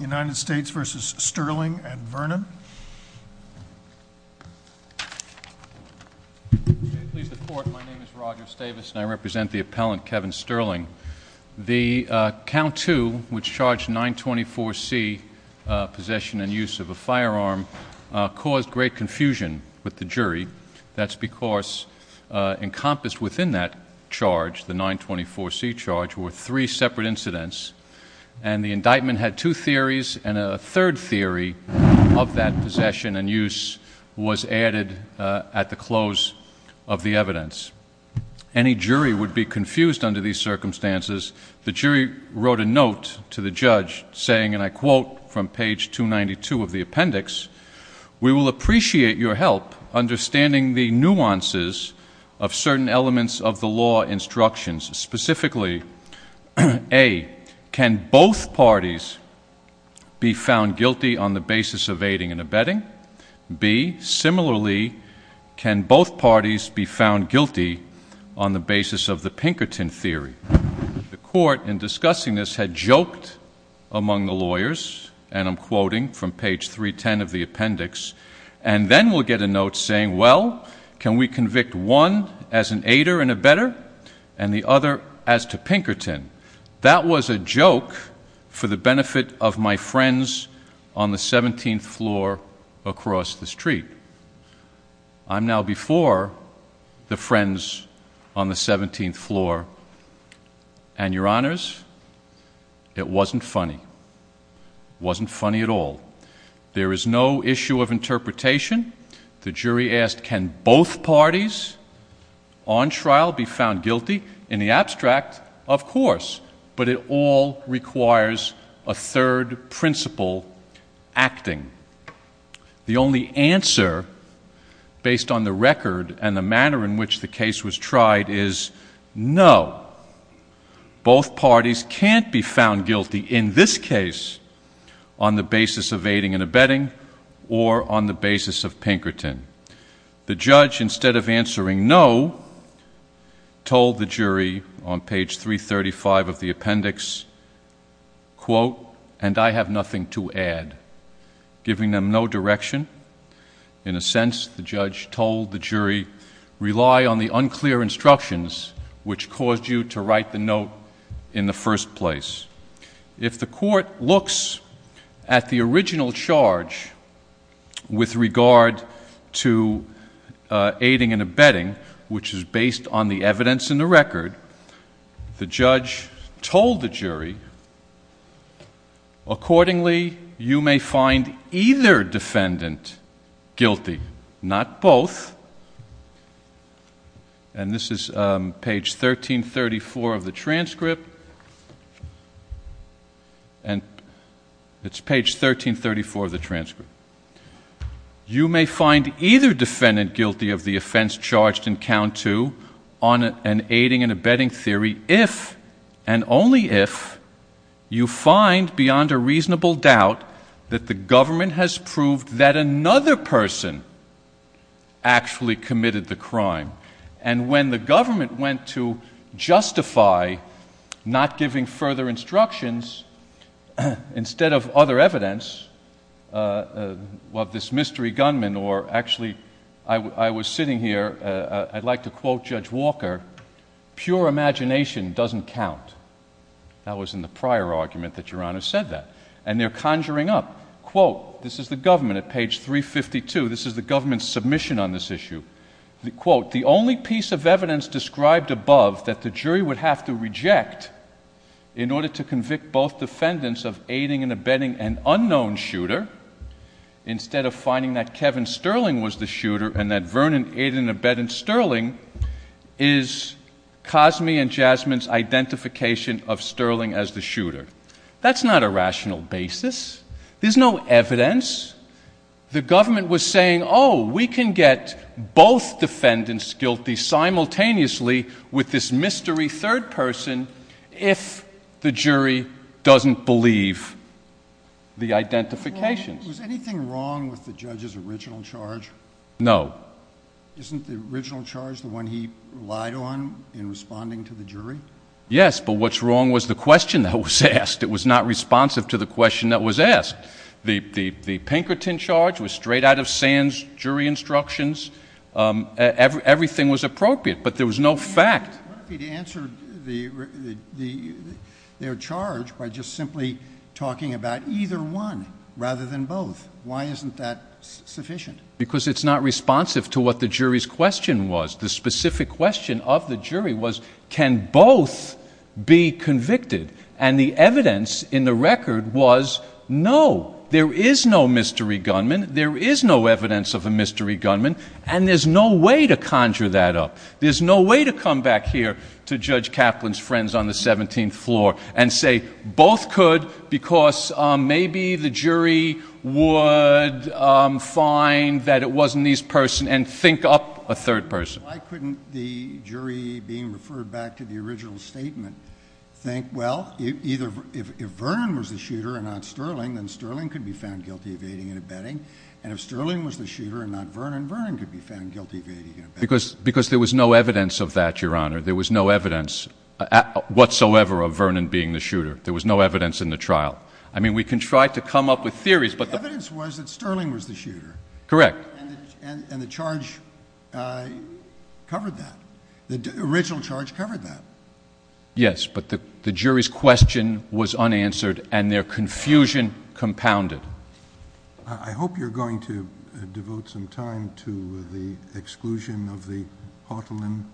United States v. Sterling and Vernon. Please report. My name is Roger Stavis and I represent the appellant, Kevin Sterling. The count two, which charged 924C, possession and use of a firearm, caused great confusion with the jury. That's because encompassed within that charge, the 924C charge, were three separate incidents, and the indictment had two theories, and a third theory of that possession and use was added at the close of the evidence. Any jury would be confused under these circumstances. The jury wrote a note to the judge saying, and I quote from page 292 of the appendix, We will appreciate your help understanding the nuances of certain elements of the law instructions. Specifically, A, can both parties be found guilty on the basis of aiding and abetting? B, similarly, can both parties be found guilty on the basis of the Pinkerton theory? The court in discussing this had joked among the lawyers, and I'm quoting from page 310 of the appendix, and then we'll get a note saying, well, can we convict one as an aider and abetter and the other as to Pinkerton? That was a joke for the benefit of my friends on the 17th floor across the street. I'm now before the friends on the 17th floor, and, Your Honors, it wasn't funny. It wasn't funny at all. There is no issue of interpretation. The jury asked, can both parties on trial be found guilty? In the abstract, of course, but it all requires a third principle, acting. The only answer, based on the record and the manner in which the case was tried, is no. Both parties can't be found guilty in this case on the basis of aiding and abetting or on the basis of Pinkerton. The judge, instead of answering no, told the jury on page 335 of the appendix, quote, and I have nothing to add, giving them no direction. In a sense, the judge told the jury, rely on the unclear instructions which caused you to write the note in the first place. If the court looks at the original charge with regard to aiding and abetting, which is based on the evidence in the record, the judge told the jury, accordingly, you may find either defendant guilty, not both. And this is page 1334 of the transcript. And it's page 1334 of the transcript. You may find either defendant guilty of the offense charged in count two on an aiding and abetting theory if and only if you find beyond a reasonable doubt that the government has proved that another person actually committed the crime. And when the government went to justify not giving further instructions, instead of other evidence, well, this mystery gunman or actually I was sitting here, I'd like to quote Judge Walker, pure imagination doesn't count. That was in the prior argument that Your Honor said that. And they're conjuring up, quote, this is the government at page 352. This is the government's submission on this issue. Quote, the only piece of evidence described above that the jury would have to reject in order to convict both defendants of aiding and abetting an unknown shooter, instead of finding that Kevin Sterling was the shooter and that Vernon aided and abetted Sterling, is Cosme and Jasmine's identification of Sterling as the shooter. That's not a rational basis. There's no evidence. The government was saying, oh, we can get both defendants guilty simultaneously with this mystery third person if the jury doesn't believe the identification. Was anything wrong with the judge's original charge? No. Isn't the original charge the one he relied on in responding to the jury? Yes, but what's wrong was the question that was asked. It was not responsive to the question that was asked. The Pinkerton charge was straight out of Sands' jury instructions. Everything was appropriate, but there was no fact. But he answered their charge by just simply talking about either one rather than both. Why isn't that sufficient? Because it's not responsive to what the jury's question was. The specific question of the jury was can both be convicted? And the evidence in the record was no. There is no mystery gunman. There is no evidence of a mystery gunman, and there's no way to conjure that up. There's no way to come back here to Judge Kaplan's friends on the 17th floor and say both could because maybe the jury would find that it wasn't this person and think up a third person. Why couldn't the jury, being referred back to the original statement, think, well, if Vernon was the shooter and not Sterling, then Sterling could be found guilty of aiding and abetting. And if Sterling was the shooter and not Vernon, Vernon could be found guilty of aiding and abetting. Because there was no evidence of that, Your Honor. There was no evidence whatsoever of Vernon being the shooter. There was no evidence in the trial. I mean, we can try to come up with theories. The evidence was that Sterling was the shooter. Correct. And the charge covered that. The original charge covered that. Yes, but the jury's question was unanswered and their confusion compounded. I hope you're going to devote some time to the exclusion of the Hartleman.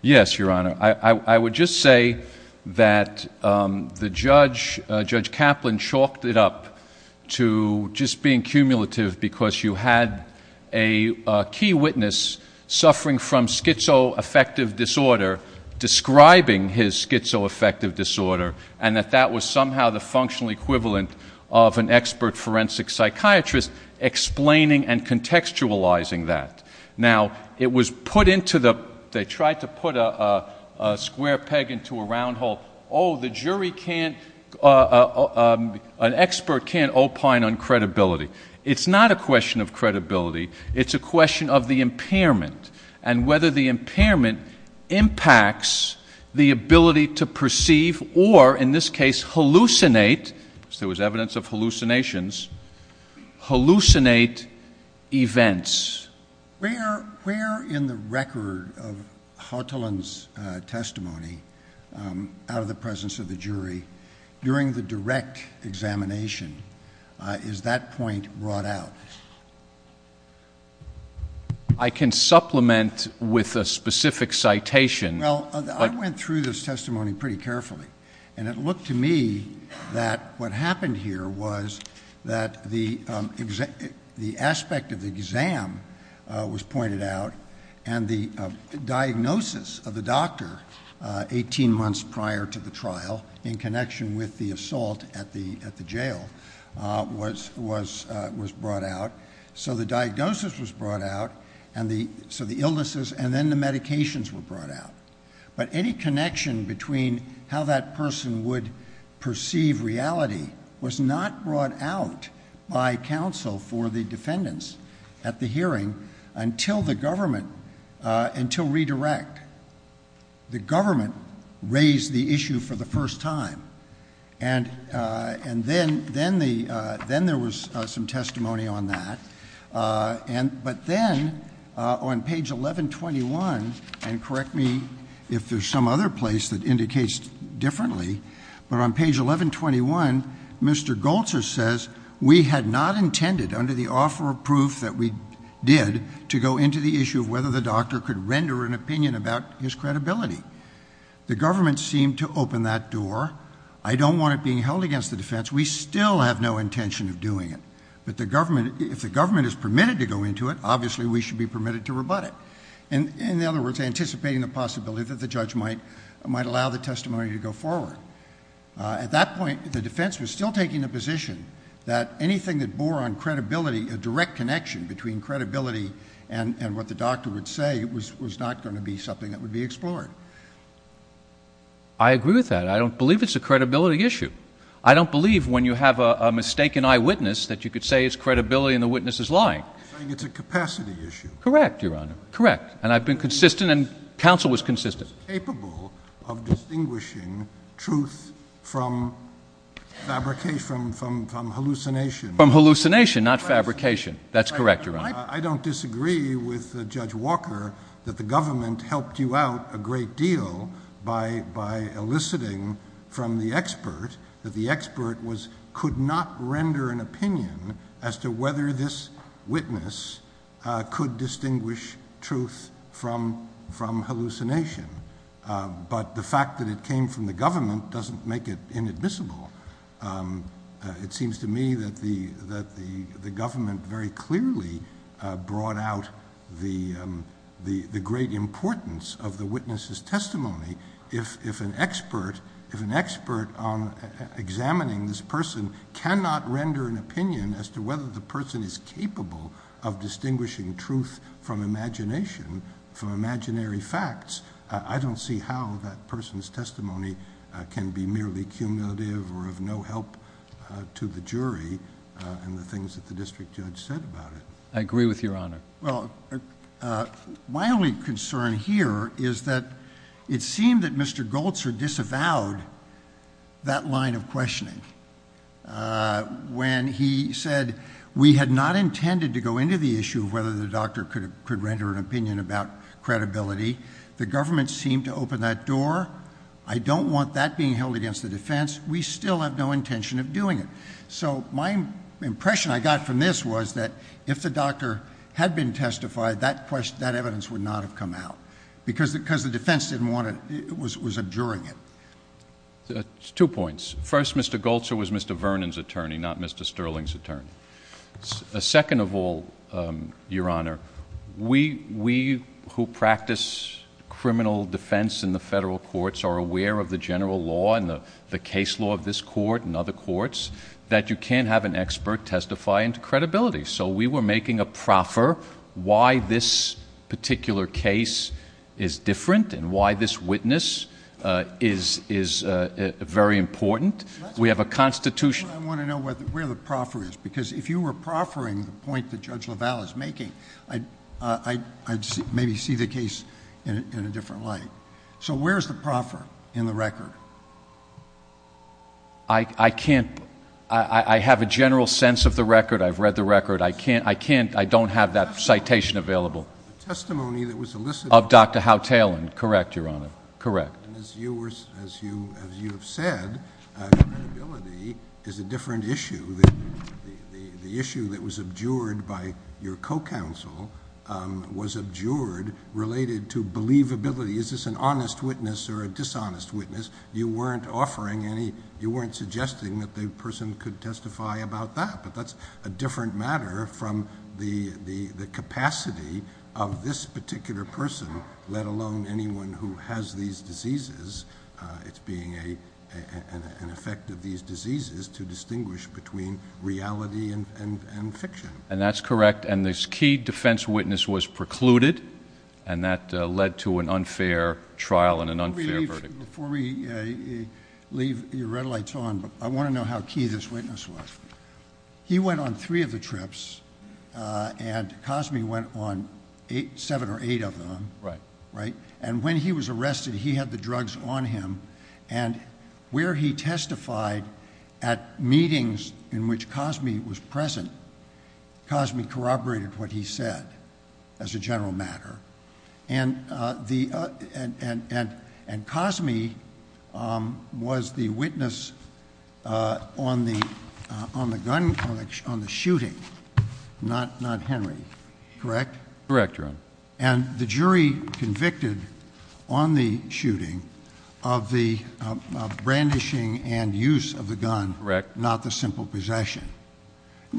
Yes, Your Honor. I would just say that the judge, Judge Kaplan, chalked it up to just being cumulative because you had a key witness suffering from schizoaffective disorder describing his schizoaffective disorder and that that was somehow the functional equivalent of an expert forensic psychiatrist explaining and contextualizing that. Now, it was put into the—they tried to put a square peg into a round hole. Oh, the jury can't—an expert can't opine on credibility. It's not a question of credibility. It's a question of the impairment and whether the impairment impacts the ability to perceive or, in this case, hallucinate, as there was evidence of hallucinations, hallucinate events. Where in the record of Hartleman's testimony, out of the presence of the jury, during the direct examination is that point brought out? I can supplement with a specific citation. Well, I went through this testimony pretty carefully, and it looked to me that what happened here was that the aspect of the exam was pointed out and the diagnosis of the doctor 18 months prior to the trial in connection with the assault at the jail was brought out. So the diagnosis was brought out, so the illnesses, and then the medications were brought out. But any connection between how that person would perceive reality was not brought out by counsel for the defendants at the hearing until the government—until redirect. The government raised the issue for the first time, and then there was some testimony on that. But then on page 1121—and correct me if there's some other place that indicates differently— but on page 1121, Mr. Goltzer says, we had not intended, under the offer of proof that we did, to go into the issue of whether the doctor could render an opinion about his credibility. The government seemed to open that door. I don't want it being held against the defense. We still have no intention of doing it. But if the government is permitted to go into it, obviously we should be permitted to rebut it. In other words, anticipating the possibility that the judge might allow the testimony to go forward. At that point, the defense was still taking the position that anything that bore on credibility, a direct connection between credibility and what the doctor would say, was not going to be something that would be explored. I agree with that. I don't believe it's a credibility issue. I don't believe when you have a mistaken eyewitness that you could say it's credibility and the witness is lying. You're saying it's a capacity issue. Correct, Your Honor. And I've been consistent, and counsel was consistent. The defense is capable of distinguishing truth from fabrication, from hallucination. From hallucination, not fabrication. That's correct, Your Honor. I don't disagree with Judge Walker that the government helped you out a great deal by eliciting from the expert that the expert could not render an opinion as to whether this witness could distinguish truth from hallucination. But the fact that it came from the government doesn't make it inadmissible. It seems to me that the government very clearly brought out the great importance of the witness's testimony. If an expert on examining this person cannot render an opinion as to whether the person is capable of distinguishing truth from imagination, from imaginary facts, I don't see how that person's testimony can be merely cumulative or of no help to the jury and the things that the district judge said about it. I agree with you, Your Honor. Well, my only concern here is that it seemed that Mr. Goltzer disavowed that line of questioning. When he said we had not intended to go into the issue of whether the doctor could render an opinion about credibility, the government seemed to open that door. I don't want that being held against the defense. We still have no intention of doing it. So my impression I got from this was that if the doctor had been testified, that evidence would not have come out. Because the defense was abjuring it. Two points. First, Mr. Goltzer was Mr. Vernon's attorney, not Mr. Sterling's attorney. Second of all, Your Honor, we who practice criminal defense in the federal courts are aware of the general law and the case law of this court and other courts that you can't have an expert testify into credibility. So we were making a proffer why this particular case is different and why this witness is very important. We have a constitution... I want to know where the proffer is because if you were proffering the point that Judge LaValle is making, I'd maybe see the case in a different light. So where is the proffer in the record? I can't... I have a general sense of the record. I've read the record. I can't... I don't have that citation available. The testimony that was elicited... Of Dr. Howe Talon. Correct, Your Honor. Correct. And as you have said, credibility is a different issue. The issue that was abjured by your co-counsel was abjured related to believability. Is this an honest witness or a dishonest witness? You weren't offering any... you weren't suggesting that the person could testify about that. But that's a different matter from the capacity of this particular person, let alone anyone who has these diseases. It's being an effect of these diseases to distinguish between reality and fiction. And that's correct. And this key defense witness was precluded, and that led to an unfair trial and an unfair verdict. Before we leave your red lights on, I want to know how key this witness was. He went on three of the trips, and Cosme went on seven or eight of them. Right. Right? And when he was arrested, he had the drugs on him. And where he testified at meetings in which Cosme was present, Cosme corroborated what he said as a general matter. And Cosme was the witness on the shooting, not Henry. Correct? Correct, Your Honor. And the jury convicted on the shooting of the brandishing and use of the gun, not the simple possession.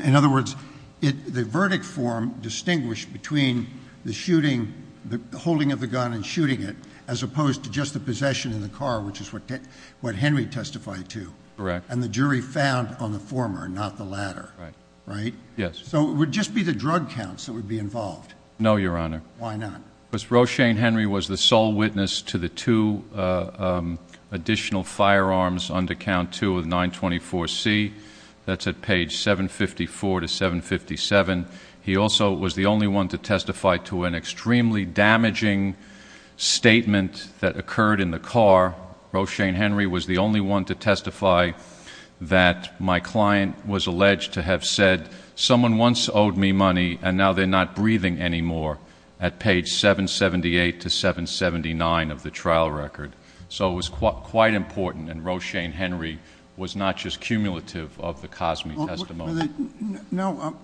In other words, the verdict form distinguished between the holding of the gun and shooting it, as opposed to just the possession in the car, which is what Henry testified to. Correct. And the jury found on the former, not the latter. Right. Right? Yes. So it would just be the drug counts that would be involved. No, Your Honor. Why not? Because Roshane Henry was the sole witness to the two additional firearms under Count 2 of 924C. That's at page 754 to 757. He also was the only one to testify to an extremely damaging statement that occurred in the car. Roshane Henry was the only one to testify that my client was alleged to have said, someone once owed me money, and now they're not breathing anymore, at page 778 to 779 of the trial record. So it was quite important, and Roshane Henry was not just cumulative of the Cosme testimony. No,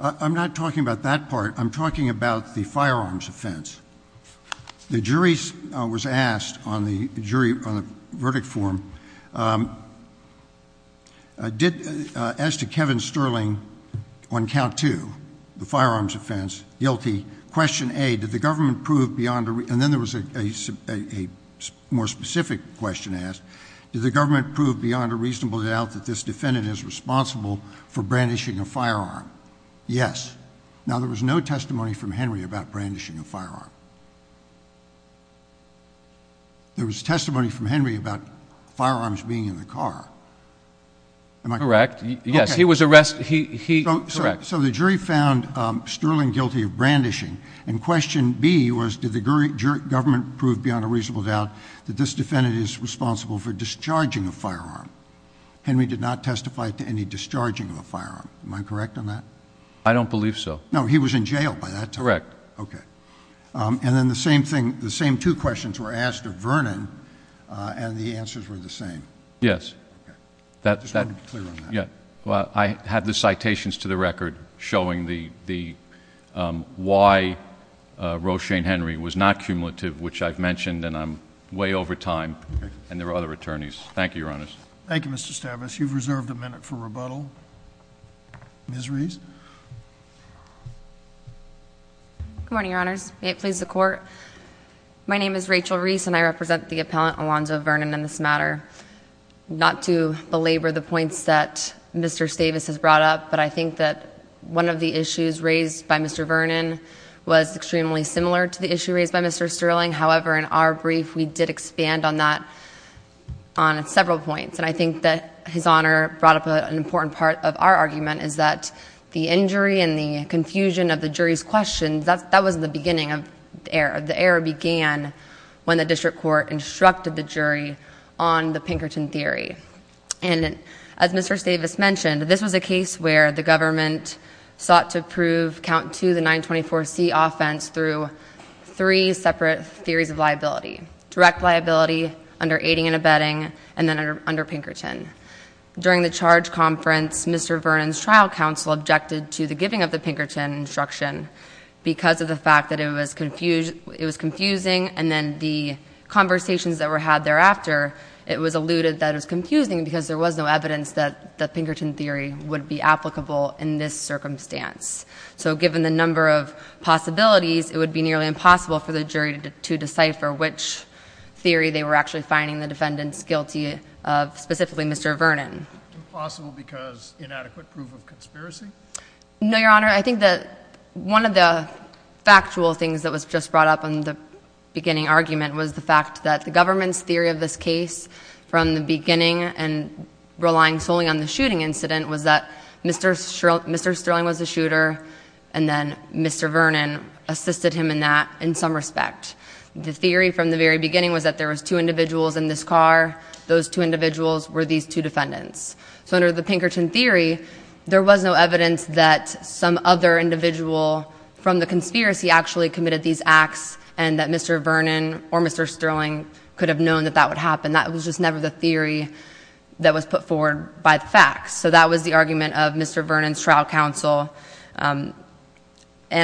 I'm not talking about that part. I'm talking about the firearms offense. The jury was asked on the verdict form, as to Kevin Sterling on Count 2, the firearms offense, guilty, question A, did the government prove beyond a reasonable doubt that this defendant is responsible for brandishing a firearm? Yes. Now, there was no testimony from Henry about brandishing a firearm. There was testimony from Henry about firearms being in the car. Am I correct? Correct. Yes, he was arrested. So the jury found Sterling guilty of brandishing, and question B was, did the government prove beyond a reasonable doubt that this defendant is responsible for discharging a firearm? Henry did not testify to any discharging of a firearm. Am I correct on that? I don't believe so. No, he was in jail by that time? Correct. Okay. And then the same thing, the same two questions were asked of Vernon, and the answers were the same. Yes. Okay. I just wanted to be clear on that. Yeah. Well, I have the citations to the record showing why Roshane Henry was not cumulative, which I've mentioned, and I'm way over time, and there are other attorneys. Thank you, Your Honors. Thank you, Mr. Stavis. You've reserved a minute for rebuttal. Ms. Reese? Good morning, Your Honors. May it please the Court? My name is Rachel Reese, and I represent the appellant, Alonzo Vernon, in this matter. Not to belabor the points that Mr. Stavis has brought up, but I think that one of the issues raised by Mr. Vernon was extremely similar to the issue raised by Mr. Sterling. However, in our brief, we did expand on that on several points. And I think that his Honor brought up an important part of our argument is that the injury and the confusion of the jury's questions, that was the beginning of the error. The error began when the district court instructed the jury on the Pinkerton theory. And as Mr. Stavis mentioned, this was a case where the government sought to prove count two, the 924C offense, through three separate theories of liability. Direct liability, under aiding and abetting, and then under Pinkerton. During the charge conference, Mr. Vernon's trial counsel objected to the giving of the Pinkerton instruction because of the fact that it was confusing, and then the conversations that were had thereafter, it was alluded that it was confusing because there was no evidence that the Pinkerton theory would be applicable in this circumstance. So given the number of possibilities, it would be nearly impossible for the jury to decipher which theory they were actually finding the defendants guilty of, specifically Mr. Vernon. Impossible because inadequate proof of conspiracy? No, Your Honor. I think that one of the factual things that was just brought up in the beginning argument was the fact that the government's theory of this case, from the beginning and relying solely on the shooting incident, was that Mr. Sterling was the shooter, and then Mr. Vernon assisted him in that, in some respect. The theory from the very beginning was that there was two individuals in this car. Those two individuals were these two defendants. So under the Pinkerton theory, there was no evidence that some other individual from the conspiracy actually committed these acts, and that Mr. Vernon or Mr. Sterling could have known that that would happen. That was just never the theory that was put forward by the facts. So that was the argument of Mr. Vernon's trial counsel, and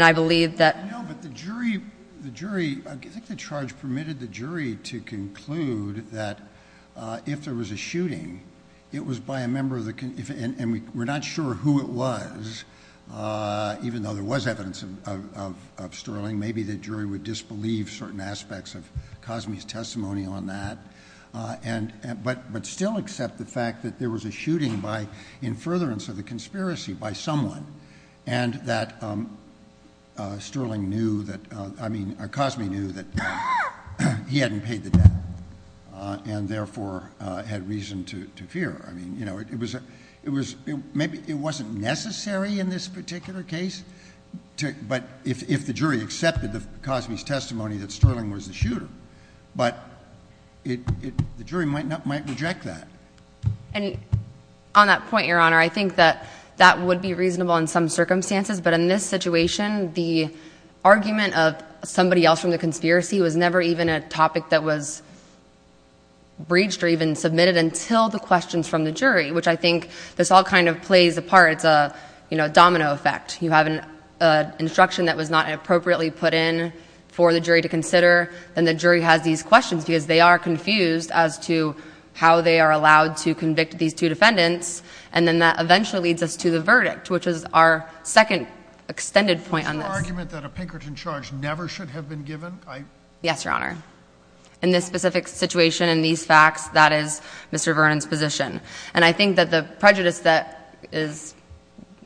I believe that— The jury—I think the charge permitted the jury to conclude that if there was a shooting, it was by a member of the—and we're not sure who it was, even though there was evidence of Sterling. Maybe the jury would disbelieve certain aspects of Cosme's testimony on that, but still accept the fact that there was a shooting by, in furtherance of the conspiracy, by someone, and that Sterling knew that—I mean, Cosme knew that he hadn't paid the debt, and therefore had reason to fear. I mean, you know, it was—maybe it wasn't necessary in this particular case, but if the jury accepted Cosme's testimony that Sterling was the shooter, but the jury might reject that. And on that point, Your Honor, I think that that would be reasonable in some circumstances, but in this situation, the argument of somebody else from the conspiracy was never even a topic that was breached or even submitted until the questions from the jury, which I think this all kind of plays a part. It's a, you know, domino effect. You have an instruction that was not appropriately put in for the jury to consider, and the jury has these questions because they are confused as to how they are allowed to convict these two defendants, and then that eventually leads us to the verdict, which is our second extended point on this. Was your argument that a Pinkerton charge never should have been given? Yes, Your Honor. In this specific situation, in these facts, that is Mr. Vernon's position. And I think that the prejudice that is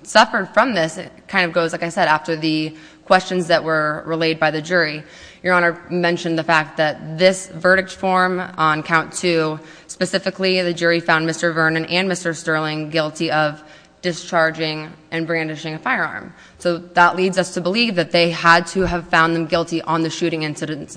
suffered from this kind of goes, like I said, after the questions that were relayed by the jury. Your Honor mentioned the fact that this verdict form on count two, specifically the jury found Mr. Vernon and Mr. Sterling guilty of discharging and brandishing a firearm. So that leads us to believe that they had to have found them guilty on the shooting incident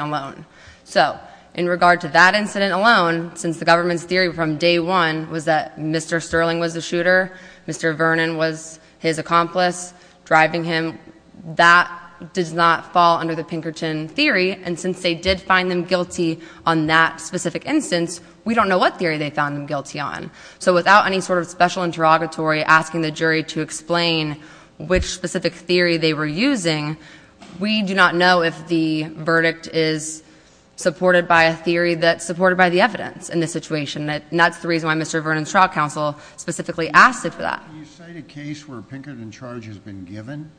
alone. So in regard to that incident alone, since the government's theory from day one was that Mr. Sterling was the shooter, Mr. Vernon was his accomplice driving him, that does not fall under the Pinkerton theory. And since they did find them guilty on that specific instance, we don't know what theory they found them guilty on. So without any sort of special interrogatory asking the jury to explain which specific theory they were using, we do not know if the verdict is supported by a theory that's supported by the evidence in this situation. And that's the reason why Mr. Vernon's trial counsel specifically asked it for that. Can you cite a case where Pinkerton charge has been given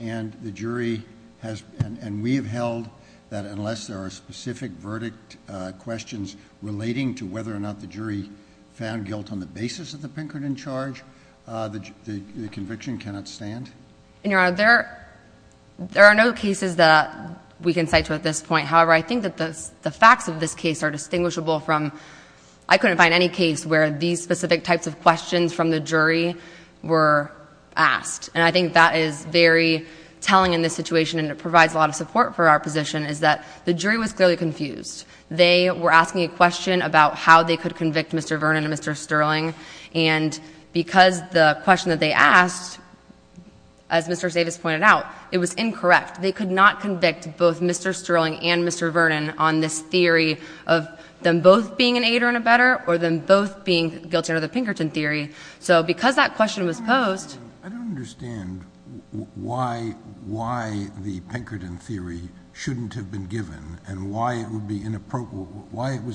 and the jury has, and we have held that unless there are specific verdict questions relating to whether or not the jury found guilt on the basis of the Pinkerton charge, the conviction cannot stand? Your Honor, there are no cases that we can cite to at this point. However, I think that the facts of this case are distinguishable from, I couldn't find any case where these specific types of questions from the jury were asked. And I think that is very telling in this situation and it provides a lot of support for our position, is that the jury was clearly confused. They were asking a question about how they could convict Mr. Vernon and Mr. Sterling. And because the question that they asked, as Mr. Davis pointed out, it was incorrect. They could not convict both Mr. Sterling and Mr. Vernon on this theory of them both being an aider and a better or them both being guilty under the Pinkerton theory. So because that question was posed. I don't understand why the Pinkerton theory shouldn't have been given and why it was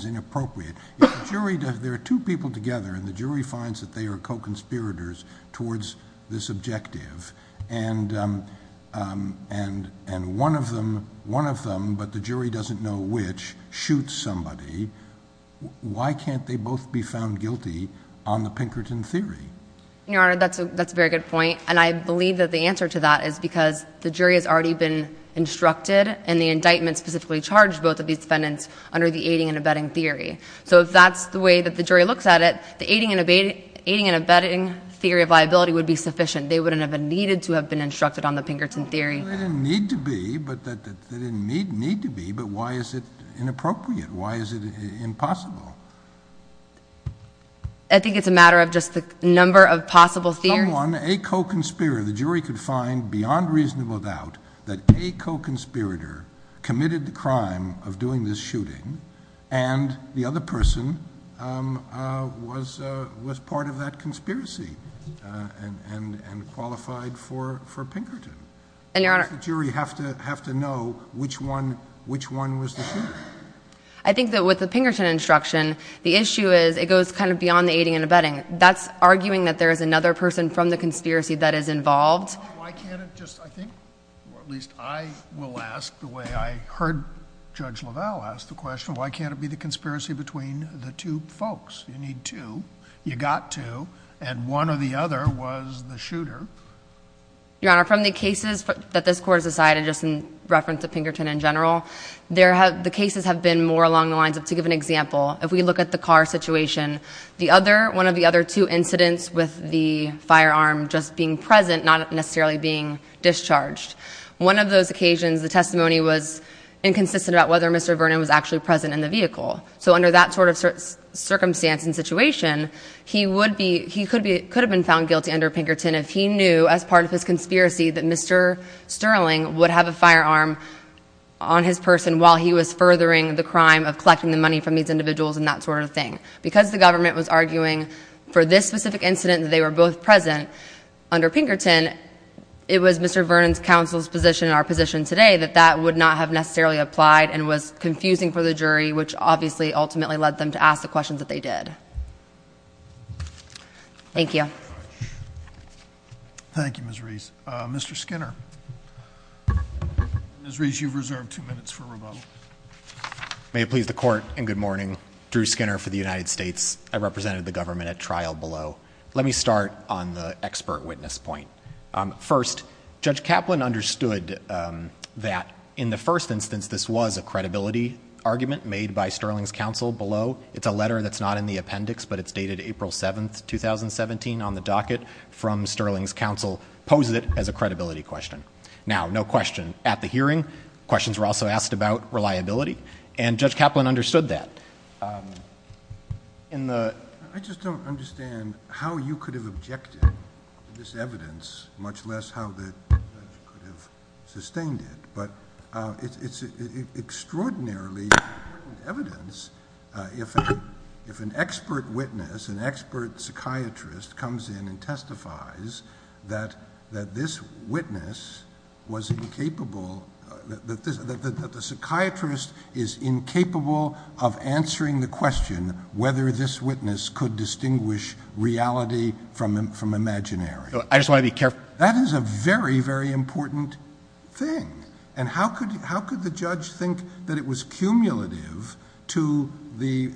inappropriate. There are two people together and the jury finds that they are co-conspirators towards this objective. And one of them, but the jury doesn't know which, shoots somebody. Why can't they both be found guilty on the Pinkerton theory? Your Honor, that's a very good point. And I believe that the answer to that is because the jury has already been instructed and the indictment specifically charged both of these defendants under the aiding and abetting theory. So if that's the way that the jury looks at it, the aiding and abetting theory of liability would be sufficient. They wouldn't have needed to have been instructed on the Pinkerton theory. They didn't need to be, but why is it inappropriate? Why is it impossible? I think it's a matter of just the number of possible theories. Someone, a co-conspirator, the jury could find beyond reasonable doubt that a co-conspirator committed the crime of doing this shooting and the other person was part of that conspiracy and qualified for Pinkerton. Why does the jury have to know which one was the shooter? I think that with the Pinkerton instruction, the issue is it goes kind of beyond the aiding and abetting. That's arguing that there is another person from the conspiracy that is involved. Well, why can't it just, I think, or at least I will ask the way I heard Judge LaValle ask the question, why can't it be the conspiracy between the two folks? You need two, you got two, and one or the other was the shooter. Your Honor, from the cases that this Court has decided, just in reference to Pinkerton in general, the cases have been more along the lines of, to give an example, if we look at the car situation, one of the other two incidents with the firearm just being present, not necessarily being discharged, one of those occasions the testimony was inconsistent about whether Mr. Vernon was actually present in the vehicle. So under that sort of circumstance and situation, he could have been found guilty under Pinkerton if he knew as part of his conspiracy that Mr. Sterling would have a firearm on his person while he was furthering the crime of collecting the money from these individuals and that sort of thing. Because the government was arguing for this specific incident that they were both present under Pinkerton, it was Mr. Vernon's counsel's position and our position today that that would not have necessarily applied and was confusing for the jury, which obviously ultimately led them to ask the questions that they did. Thank you. Thank you, Ms. Reese. Mr. Skinner. Ms. Reese, you've reserved two minutes for rebuttal. May it please the court and good morning. Drew Skinner for the United States. I represented the government at trial below. Let me start on the expert witness point. First, Judge Kaplan understood that in the first instance this was a credibility argument made by Sterling's counsel below. It's a letter that's not in the appendix, but it's dated April 7, 2017, on the docket from Sterling's counsel, poses it as a credibility question. Now, no question at the hearing. Questions were also asked about reliability, and Judge Kaplan understood that. I just don't understand how you could have objected to this evidence, much less how the judge could have sustained it. But it's extraordinarily important evidence if an expert witness, an expert psychiatrist, comes in and testifies that this witness was incapable, that the psychiatrist is incapable of answering the question whether this witness could distinguish reality from imaginary. I just want to be careful. That is a very, very important thing. And how could the judge think that it was cumulative to the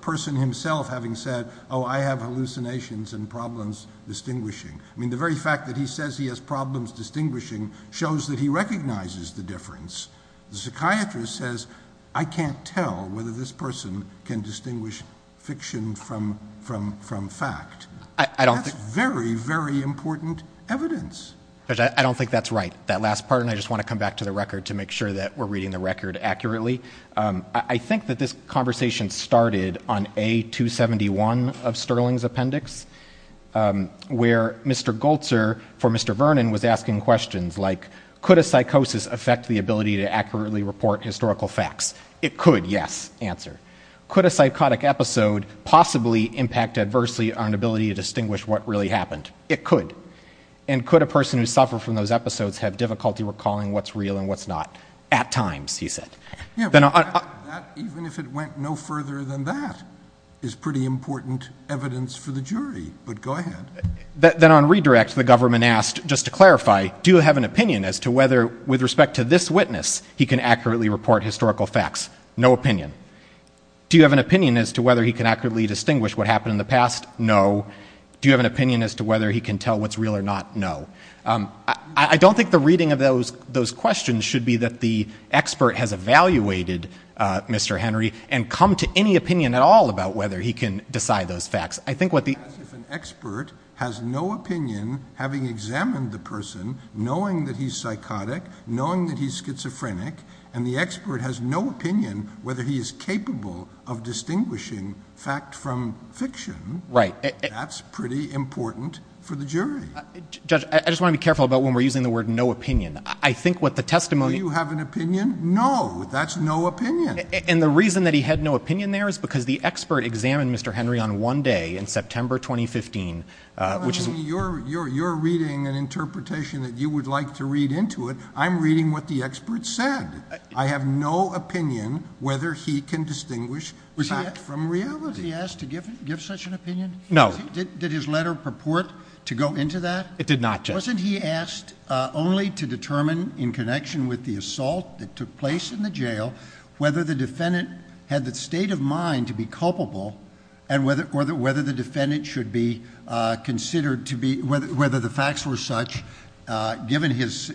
person himself having said, oh, I have hallucinations and problems distinguishing. I mean, the very fact that he says he has problems distinguishing shows that he recognizes the difference. The psychiatrist says, I can't tell whether this person can distinguish fiction from fact. That's very, very important evidence. Judge, I don't think that's right. That last part, and I just want to come back to the record to make sure that we're reading the record accurately. I think that this conversation started on A271 of Sterling's appendix, where Mr. Goltzer, for Mr. Vernon, was asking questions like, could a psychosis affect the ability to accurately report historical facts? It could, yes, answer. Could a psychotic episode possibly impact adversely on an ability to distinguish what really happened? It could. And could a person who suffered from those episodes have difficulty recalling what's real and what's not? At times, he said. Even if it went no further than that, it's pretty important evidence for the jury. But go ahead. Then on redirect, the government asked, just to clarify, do you have an opinion as to whether, with respect to this witness, he can accurately report historical facts? No opinion. Do you have an opinion as to whether he can accurately distinguish what happened in the past? No. Do you have an opinion as to whether he can tell what's real or not? No. I don't think the reading of those questions should be that the expert has evaluated Mr. Henry and come to any opinion at all about whether he can decide those facts. It's as if an expert has no opinion, having examined the person, knowing that he's psychotic, knowing that he's schizophrenic, and the expert has no opinion whether he is capable of distinguishing fact from fiction. Right. That's pretty important for the jury. Judge, I just want to be careful about when we're using the word no opinion. I think what the testimony— Do you have an opinion? No. That's no opinion. And the reason that he had no opinion there is because the expert examined Mr. Henry on one day in September 2015. You're reading an interpretation that you would like to read into it. I'm reading what the expert said. I have no opinion whether he can distinguish fact from reality. Was he asked to give such an opinion? No. Did his letter purport to go into that? It did not, Judge. Wasn't he asked only to determine in connection with the assault that took place in the jail whether the defendant had the state of mind to be culpable and whether the facts were such, given his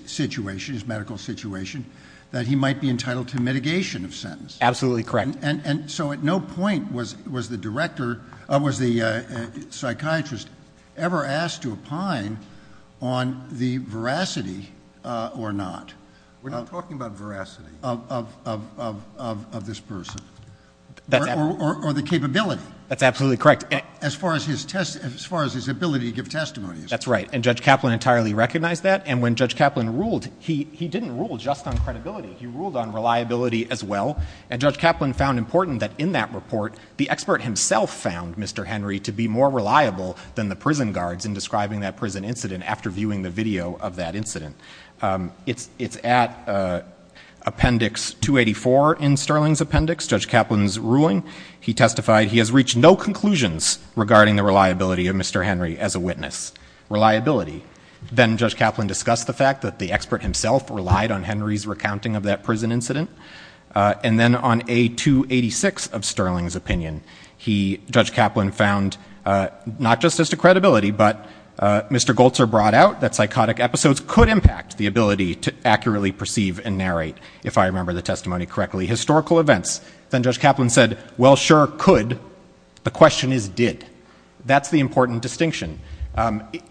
medical situation, that he might be entitled to mitigation of sentence? Absolutely correct. And so at no point was the psychiatrist ever asked to opine on the veracity or not. We're not talking about veracity. Of this person. Or the capability. That's absolutely correct. As far as his ability to give testimony is. That's right. And Judge Kaplan entirely recognized that. And when Judge Kaplan ruled, he didn't rule just on credibility. He ruled on reliability as well. And Judge Kaplan found important that in that report, the expert himself found Mr. Henry to be more reliable than the prison guards in describing that prison incident after viewing the video of that incident. It's at appendix 284 in Sterling's appendix, Judge Kaplan's ruling. He testified he has reached no conclusions regarding the reliability of Mr. Henry as a witness. Reliability. Then Judge Kaplan discussed the fact that the expert himself relied on Henry's recounting of that prison incident. And then on A286 of Sterling's opinion, Judge Kaplan found not just as to credibility, but Mr. Goltzer brought out that psychotic episodes could impact the ability to accurately perceive and narrate, if I remember the testimony correctly, historical events. Then Judge Kaplan said, well, sure, could. The question is did. That's the important distinction.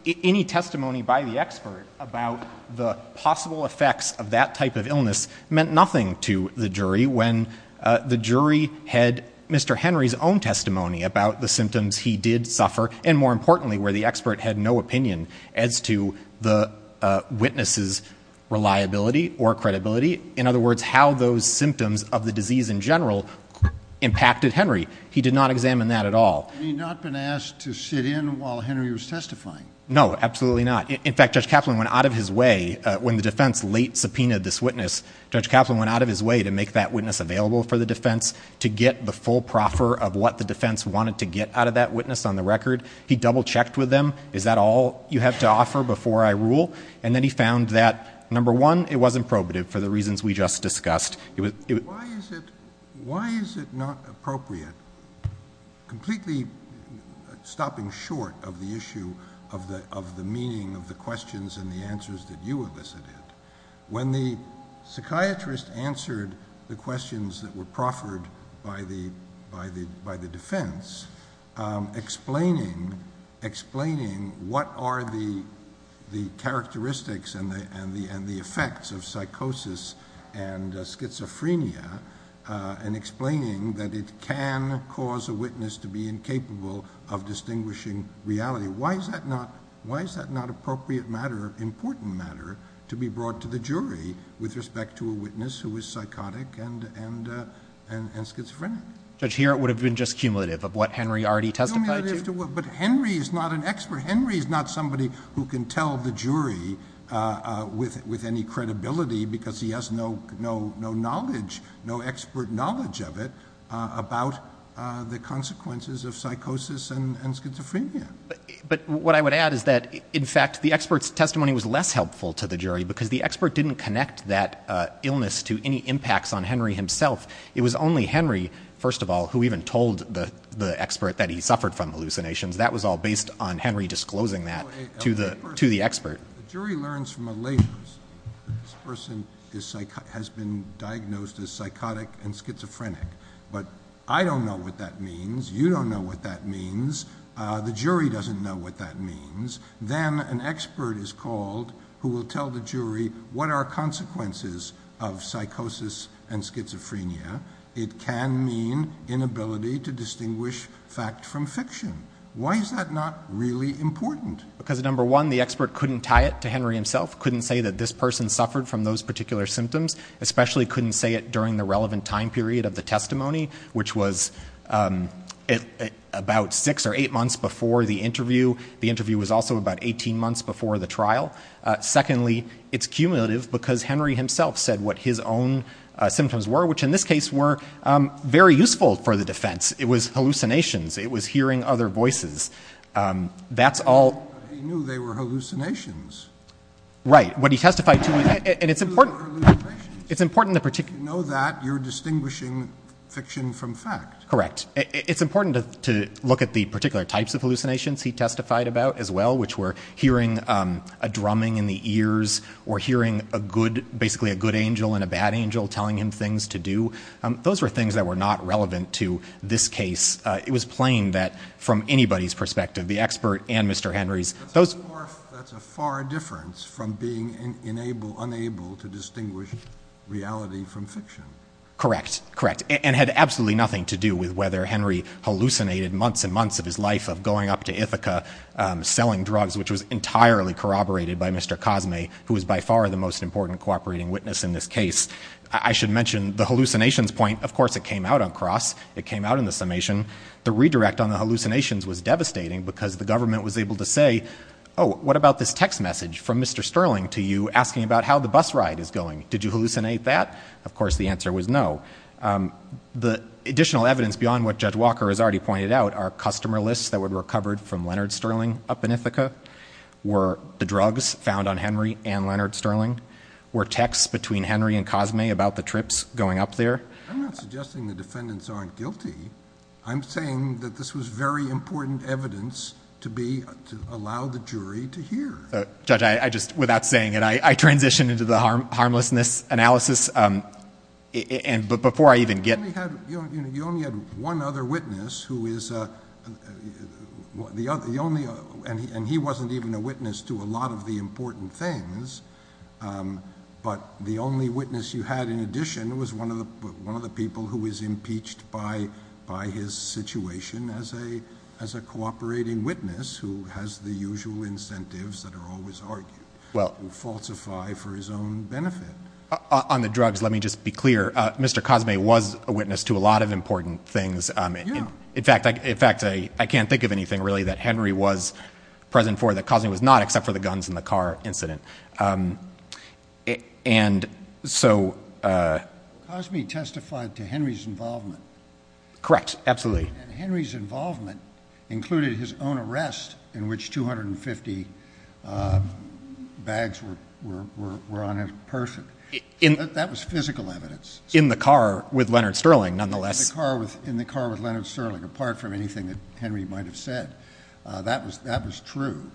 Any testimony by the expert about the possible effects of that type of illness meant nothing to the jury when the jury had Mr. Henry's own testimony about the symptoms he did suffer, and more importantly, where the expert had no opinion as to the witness's reliability or credibility. In other words, how those symptoms of the disease in general impacted Henry. He did not examine that at all. Had he not been asked to sit in while Henry was testifying? No, absolutely not. In fact, Judge Kaplan went out of his way when the defense late subpoenaed this witness, Judge Kaplan went out of his way to make that witness available for the defense to get the full proffer of what the defense wanted to get out of that witness on the record. He double-checked with them. Is that all you have to offer before I rule? And then he found that, number one, it wasn't probative for the reasons we just discussed. Why is it not appropriate, completely stopping short of the issue of the meaning of the questions and the answers that you elicited, when the psychiatrist answered the questions that were proffered by the defense, explaining what are the characteristics and the effects of psychosis and schizophrenia, and explaining that it can cause a witness to be incapable of distinguishing reality? Why is that not appropriate matter, important matter, to be brought to the jury with respect to a witness who is psychotic and schizophrenic? Judge, here it would have been just cumulative of what Henry already testified to. But Henry is not an expert. Henry is not somebody who can tell the jury with any credibility because he has no knowledge, no expert knowledge of it, about the consequences of psychosis and schizophrenia. But what I would add is that, in fact, the expert's testimony was less helpful to the jury because the expert didn't connect that illness to any impacts on Henry himself. It was only Henry, first of all, who even told the expert that he suffered from hallucinations. That was all based on Henry disclosing that to the expert. The jury learns from a later study that this person has been diagnosed as psychotic and schizophrenic. But I don't know what that means. You don't know what that means. The jury doesn't know what that means. Then an expert is called who will tell the jury what are consequences of psychosis and schizophrenia. It can mean inability to distinguish fact from fiction. Why is that not really important? Because, number one, the expert couldn't tie it to Henry himself, couldn't say that this person suffered from those particular symptoms, especially couldn't say it during the relevant time period of the testimony, which was about six or eight months before the interview. The interview was also about 18 months before the trial. Secondly, it's cumulative because Henry himself said what his own symptoms were, which in this case were very useful for the defense. It was hallucinations. It was hearing other voices. That's all... But he knew they were hallucinations. Right. What he testified to... But he knew they were hallucinations. It's important to... If you know that, you're distinguishing fiction from fact. Correct. It's important to look at the particular types of hallucinations. He testified about, as well, which were hearing a drumming in the ears or hearing basically a good angel and a bad angel telling him things to do. Those were things that were not relevant to this case. It was plain that, from anybody's perspective, the expert and Mr. Henry's... That's a far difference from being unable to distinguish reality from fiction. Correct. Correct. And had absolutely nothing to do with whether Henry hallucinated months and months of his life of going up to Ithaca, selling drugs, which was entirely corroborated by Mr. Cosme, who was by far the most important cooperating witness in this case. I should mention the hallucinations point. Of course it came out on cross. It came out in the summation. The redirect on the hallucinations was devastating because the government was able to say, oh, what about this text message from Mr. Sterling to you asking about how the bus ride is going? Did you hallucinate that? Of course the answer was no. The additional evidence beyond what Judge Walker has already pointed out are customer lists that were recovered from Leonard Sterling up in Ithaca, were the drugs found on Henry and Leonard Sterling, were texts between Henry and Cosme about the trips going up there. I'm not suggesting the defendants aren't guilty. I'm saying that this was very important evidence to allow the jury to hear. Judge, without saying it, I transition into the harmlessness analysis. Before I even get— You only had one other witness, and he wasn't even a witness to a lot of the important things, but the only witness you had in addition was one of the people who was impeached by his situation as a cooperating witness who has the usual incentives that are always argued, who falsified for his own benefit. On the drugs, let me just be clear. Mr. Cosme was a witness to a lot of important things. In fact, I can't think of anything really that Henry was present for that Cosme was not, except for the guns in the car incident. Cosme testified to Henry's involvement. Correct, absolutely. Henry's involvement included his own arrest in which 250 bags were on a person. That was physical evidence. In the car with Leonard Sterling, nonetheless. In the car with Leonard Sterling, apart from anything that Henry might have said. That was true.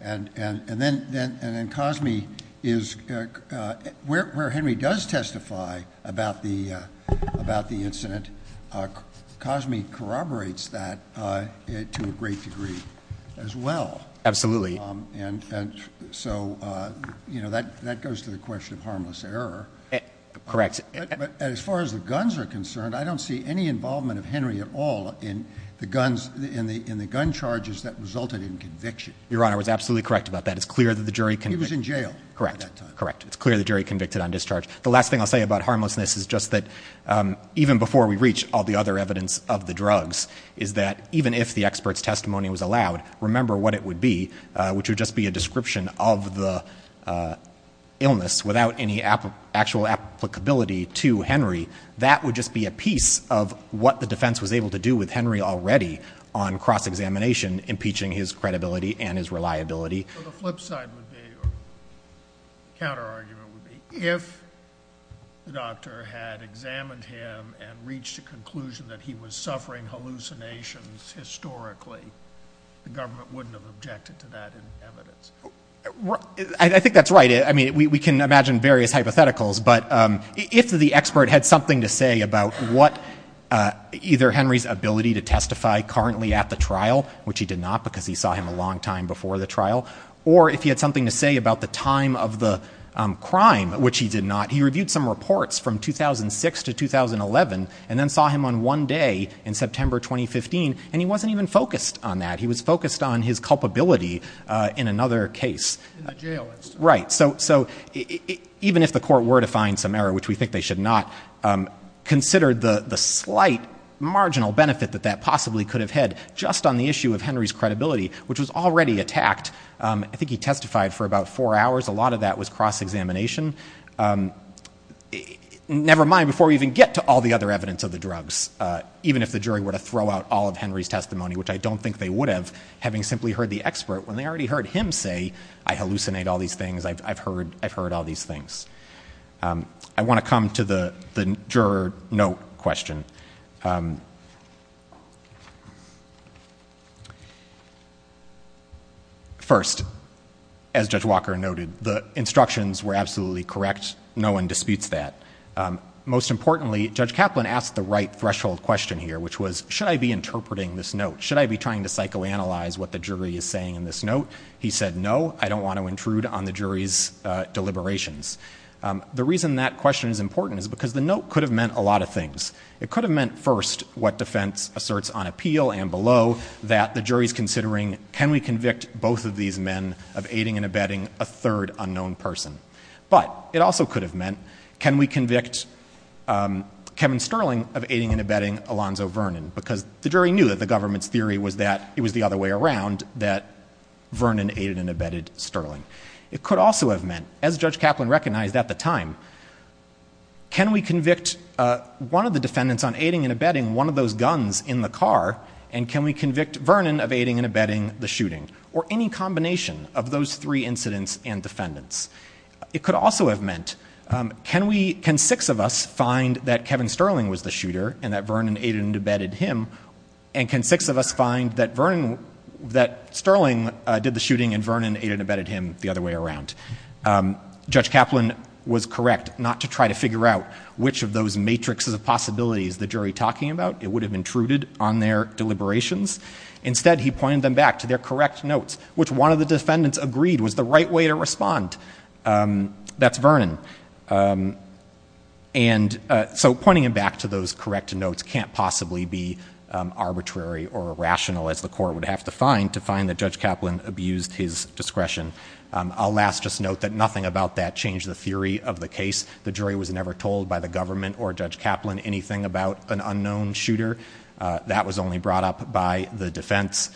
And then Cosme is—where Henry does testify about the incident, Cosme corroborates that to a great degree as well. Absolutely. And so that goes to the question of harmless error. Correct. But as far as the guns are concerned, I don't see any involvement of Henry at all in the gun charges that resulted in conviction. Your Honor, I was absolutely correct about that. It's clear that the jury— He was in jail at that time. Correct, correct. It's clear the jury convicted on discharge. The last thing I'll say about harmlessness is just that even before we reach all the other evidence of the drugs is that even if the expert's testimony was allowed, remember what it would be, which would just be a description of the illness without any actual applicability to Henry. That would just be a piece of what the defense was able to do with Henry already on cross-examination, impeaching his credibility and his reliability. So the flip side would be, or counter-argument would be, if the doctor had examined him and reached a conclusion that he was suffering hallucinations historically, the government wouldn't have objected to that evidence. I think that's right. I mean, we can imagine various hypotheticals, but if the expert had something to say about either Henry's ability to testify currently at the trial, which he did not, because he saw him a long time before the trial, or if he had something to say about the time of the crime, which he did not, he reviewed some reports from 2006 to 2011 and then saw him on one day in September 2015, and he wasn't even focused on that. He was focused on his culpability in another case. In the jail instance. Right. So even if the court were to find some error, which we think they should not, consider the slight marginal benefit that that possibly could have had just on the issue of Henry's credibility, which was already attacked, I think he testified for about four hours. A lot of that was cross-examination. Never mind, before we even get to all the other evidence of the drugs, even if the jury were to throw out all of Henry's testimony, which I don't think they would have, having simply heard the expert when they already heard him say, I hallucinate all these things, I've heard all these things. I want to come to the juror note question. First, as Judge Walker noted, the instructions were absolutely correct. No one disputes that. Most importantly, Judge Kaplan asked the right threshold question here, which was, should I be interpreting this note? Should I be trying to psychoanalyze what the jury is saying in this note? He said, no, I don't want to intrude on the jury's deliberations. The reason that question is important is because the note could have meant a lot of things. It could have meant, first, what defense asserts on appeal and below, that the jury is considering, can we convict both of these men of aiding and abetting a third unknown person? But it also could have meant, can we convict Kevin Sterling of aiding and abetting Alonzo Vernon? Because the jury knew that the government's theory was that it was the other way around, that Vernon aided and abetted Sterling. It could also have meant, as Judge Kaplan recognized at the time, can we convict one of the defendants on aiding and abetting one of those guns in the car, and can we convict Vernon of aiding and abetting the shooting? Or any combination of those three incidents and defendants. It could also have meant, can six of us find that Kevin Sterling was the shooter and that Vernon aided and abetted him, and can six of us find that Sterling did the shooting and Vernon aided and abetted him the other way around. Judge Kaplan was correct not to try to figure out which of those matrixes of possibilities the jury was talking about. It would have intruded on their deliberations. Instead, he pointed them back to their correct notes, which one of the defendants agreed was the right way to respond. That's Vernon. So pointing them back to those correct notes can't possibly be arbitrary or rational, as the court would have to find, that Judge Kaplan abused his discretion. I'll last just note that nothing about that changed the theory of the case. The jury was never told by the government or Judge Kaplan anything about an unknown shooter. That was only brought up by the defense.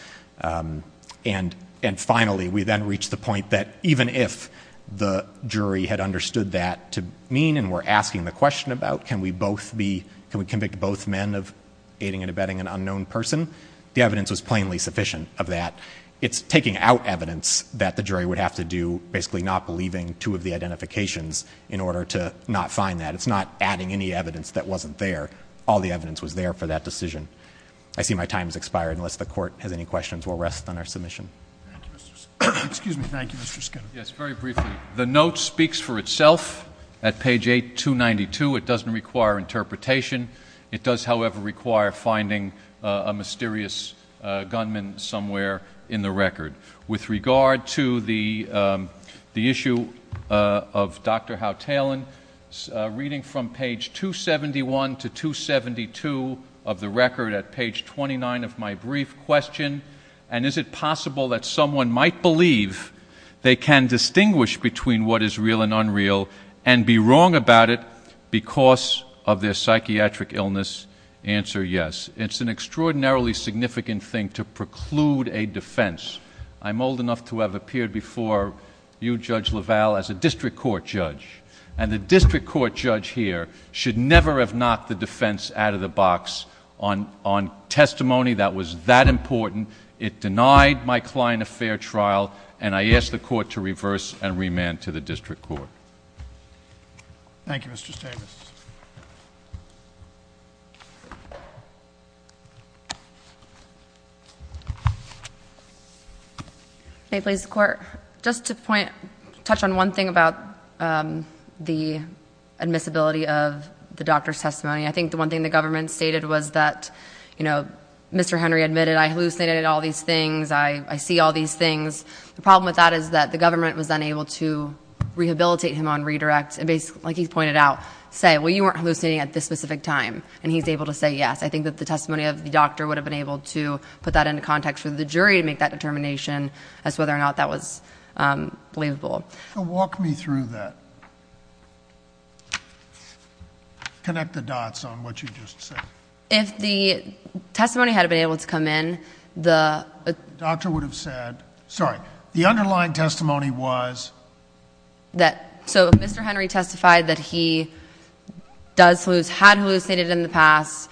And finally, we then reached the point that even if the jury had understood that to mean and were asking the question about can we convict both men of aiding and abetting an unknown person, the evidence was plainly sufficient of that. It's taking out evidence that the jury would have to do, basically not believing two of the identifications in order to not find that. It's not adding any evidence that wasn't there. All the evidence was there for that decision. I see my time has expired. Unless the court has any questions, we'll rest on our submission. Excuse me. Thank you, Mr. Skinner. Yes, very briefly. The note speaks for itself. At page 8292, it doesn't require interpretation. It does, however, require finding a mysterious gunman somewhere in the record. With regard to the issue of Dr. Howe Talon, reading from page 271 to 272 of the record at page 29 of my brief question, and is it possible that someone might believe they can distinguish between what is real and unreal and be wrong about it because of their psychiatric illness? Answer yes. It's an extraordinarily significant thing to preclude a defense. I'm old enough to have appeared before you, Judge LaValle, as a district court judge, and the district court judge here should never have knocked the defense out of the box on testimony that was that important. It denied my client a fair trial, and I ask the court to reverse and remand to the district court. Thank you, Mr. Stavis. May it please the Court. Just to touch on one thing about the admissibility of the doctor's testimony. I think the one thing the government stated was that, you know, Mr. Henry admitted I hallucinated all these things, I see all these things. The problem with that is that the government was unable to rehabilitate him on redirects and, like he's pointed out, say, well, you weren't hallucinating at this specific time, and he's able to say yes. I think that the testimony of the doctor would have been able to put that into context for the jury to make that determination as to whether or not that was believable. Walk me through that. Connect the dots on what you just said. If the testimony had been able to come in, the doctor would have said, sorry, the underlying testimony was? So Mr. Henry testified that he does hallucinate, had hallucinated in the past,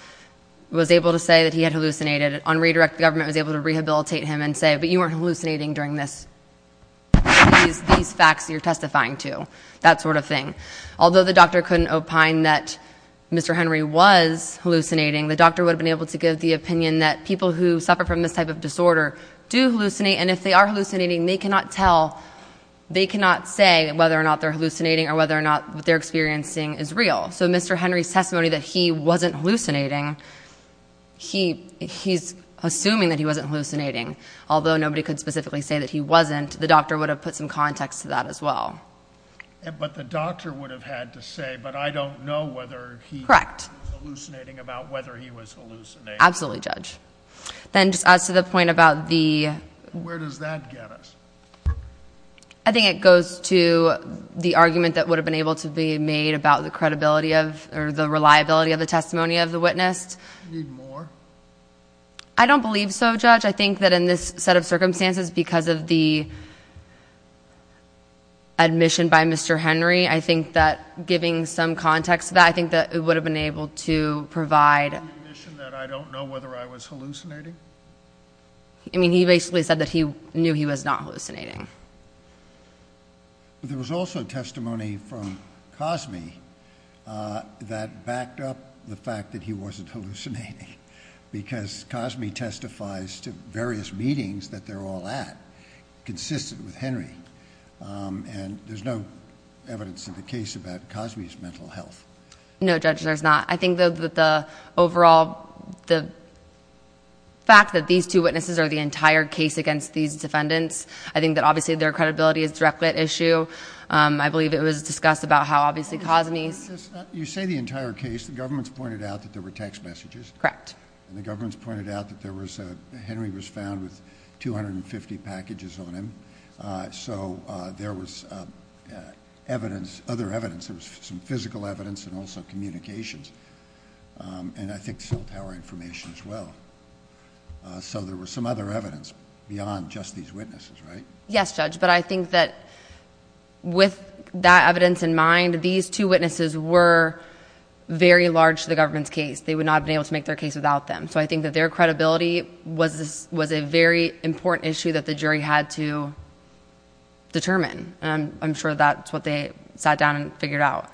was able to say that he had hallucinated. On redirect, the government was able to rehabilitate him and say, but you weren't hallucinating during these facts you're testifying to, that sort of thing. Although the doctor couldn't opine that Mr. Henry was hallucinating, the doctor would have been able to give the opinion that people who suffer from this type of disorder do hallucinate, and if they are hallucinating, they cannot tell, they cannot say whether or not they're hallucinating or whether or not what they're experiencing is real. So Mr. Henry's testimony that he wasn't hallucinating, he's assuming that he wasn't hallucinating. Although nobody could specifically say that he wasn't, the doctor would have put some context to that as well. But the doctor would have had to say, but I don't know whether he was hallucinating about whether he was hallucinating. Absolutely, Judge. Then just as to the point about the- Where does that get us? I think it goes to the argument that would have been able to be made about the credibility of, or the reliability of the testimony of the witness. Need more? I don't believe so, Judge. I think that in this set of circumstances, because of the admission by Mr. Henry, I think that giving some context to that, I think that it would have been able to provide- Did he make the admission that I don't know whether I was hallucinating? I mean, he basically said that he knew he was not hallucinating. There was also testimony from Cosme that backed up the fact that he wasn't hallucinating, because Cosme testifies to various meetings that they're all at, consistent with Henry, and there's no evidence in the case about Cosme's mental health. No, Judge, there's not. I think that the overall fact that these two witnesses are the entire case against these defendants, I think that obviously their credibility is directly at issue. I believe it was discussed about how obviously Cosme's- You say the entire case. The government's pointed out that there were text messages. Correct. The government's pointed out that Henry was found with 250 packages on him, so there was other evidence. There was some physical evidence and also communications, and I think cell tower information as well. So there was some other evidence beyond just these witnesses, right? Yes, Judge, but I think that with that evidence in mind, these two witnesses were very large to the government's case. They would not have been able to make their case without them, so I think that their credibility was a very important issue that the jury had to determine, and I'm sure that's what they sat down and figured out.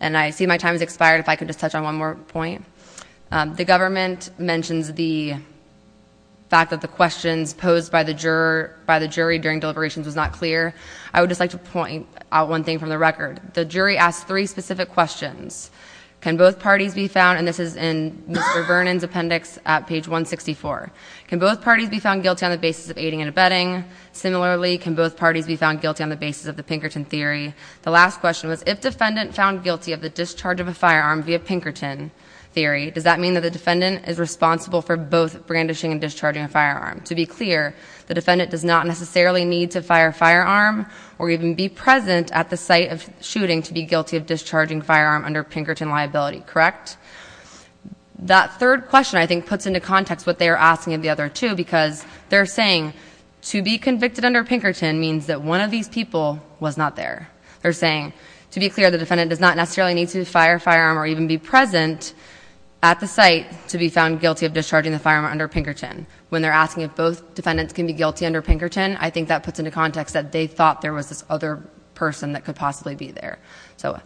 And I see my time has expired. If I could just touch on one more point. The government mentions the fact that the questions posed by the jury during deliberations was not clear. I would just like to point out one thing from the record. The jury asked three specific questions. Can both parties be found, and this is in Mr. Vernon's appendix at page 164. Can both parties be found guilty on the basis of aiding and abetting? Similarly, can both parties be found guilty on the basis of the Pinkerton theory? The last question was, if defendant found guilty of the discharge of a firearm via Pinkerton theory, does that mean that the defendant is responsible for both brandishing and discharging a firearm? To be clear, the defendant does not necessarily need to fire a firearm or even be present at the site of shooting to be guilty of discharging a firearm under Pinkerton liability, correct? That third question, I think, puts into context what they are asking of the other two, because they're saying to be convicted under Pinkerton means that one of these people was not there. They're saying, to be clear, the defendant does not necessarily need to fire a firearm or even be present at the site to be found guilty of discharging the firearm under Pinkerton. When they're asking if both defendants can be guilty under Pinkerton, I think that puts into context that they thought there was this other person that could possibly be there. So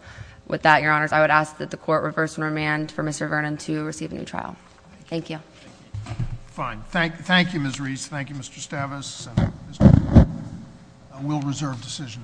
with that, Your Honors, I would ask that the Court reverse and remand for Mr. Vernon to receive a new trial. Thank you. Fine. Thank you, Ms. Reese. Thank you, Mr. Stavis. We'll reserve decision in this case.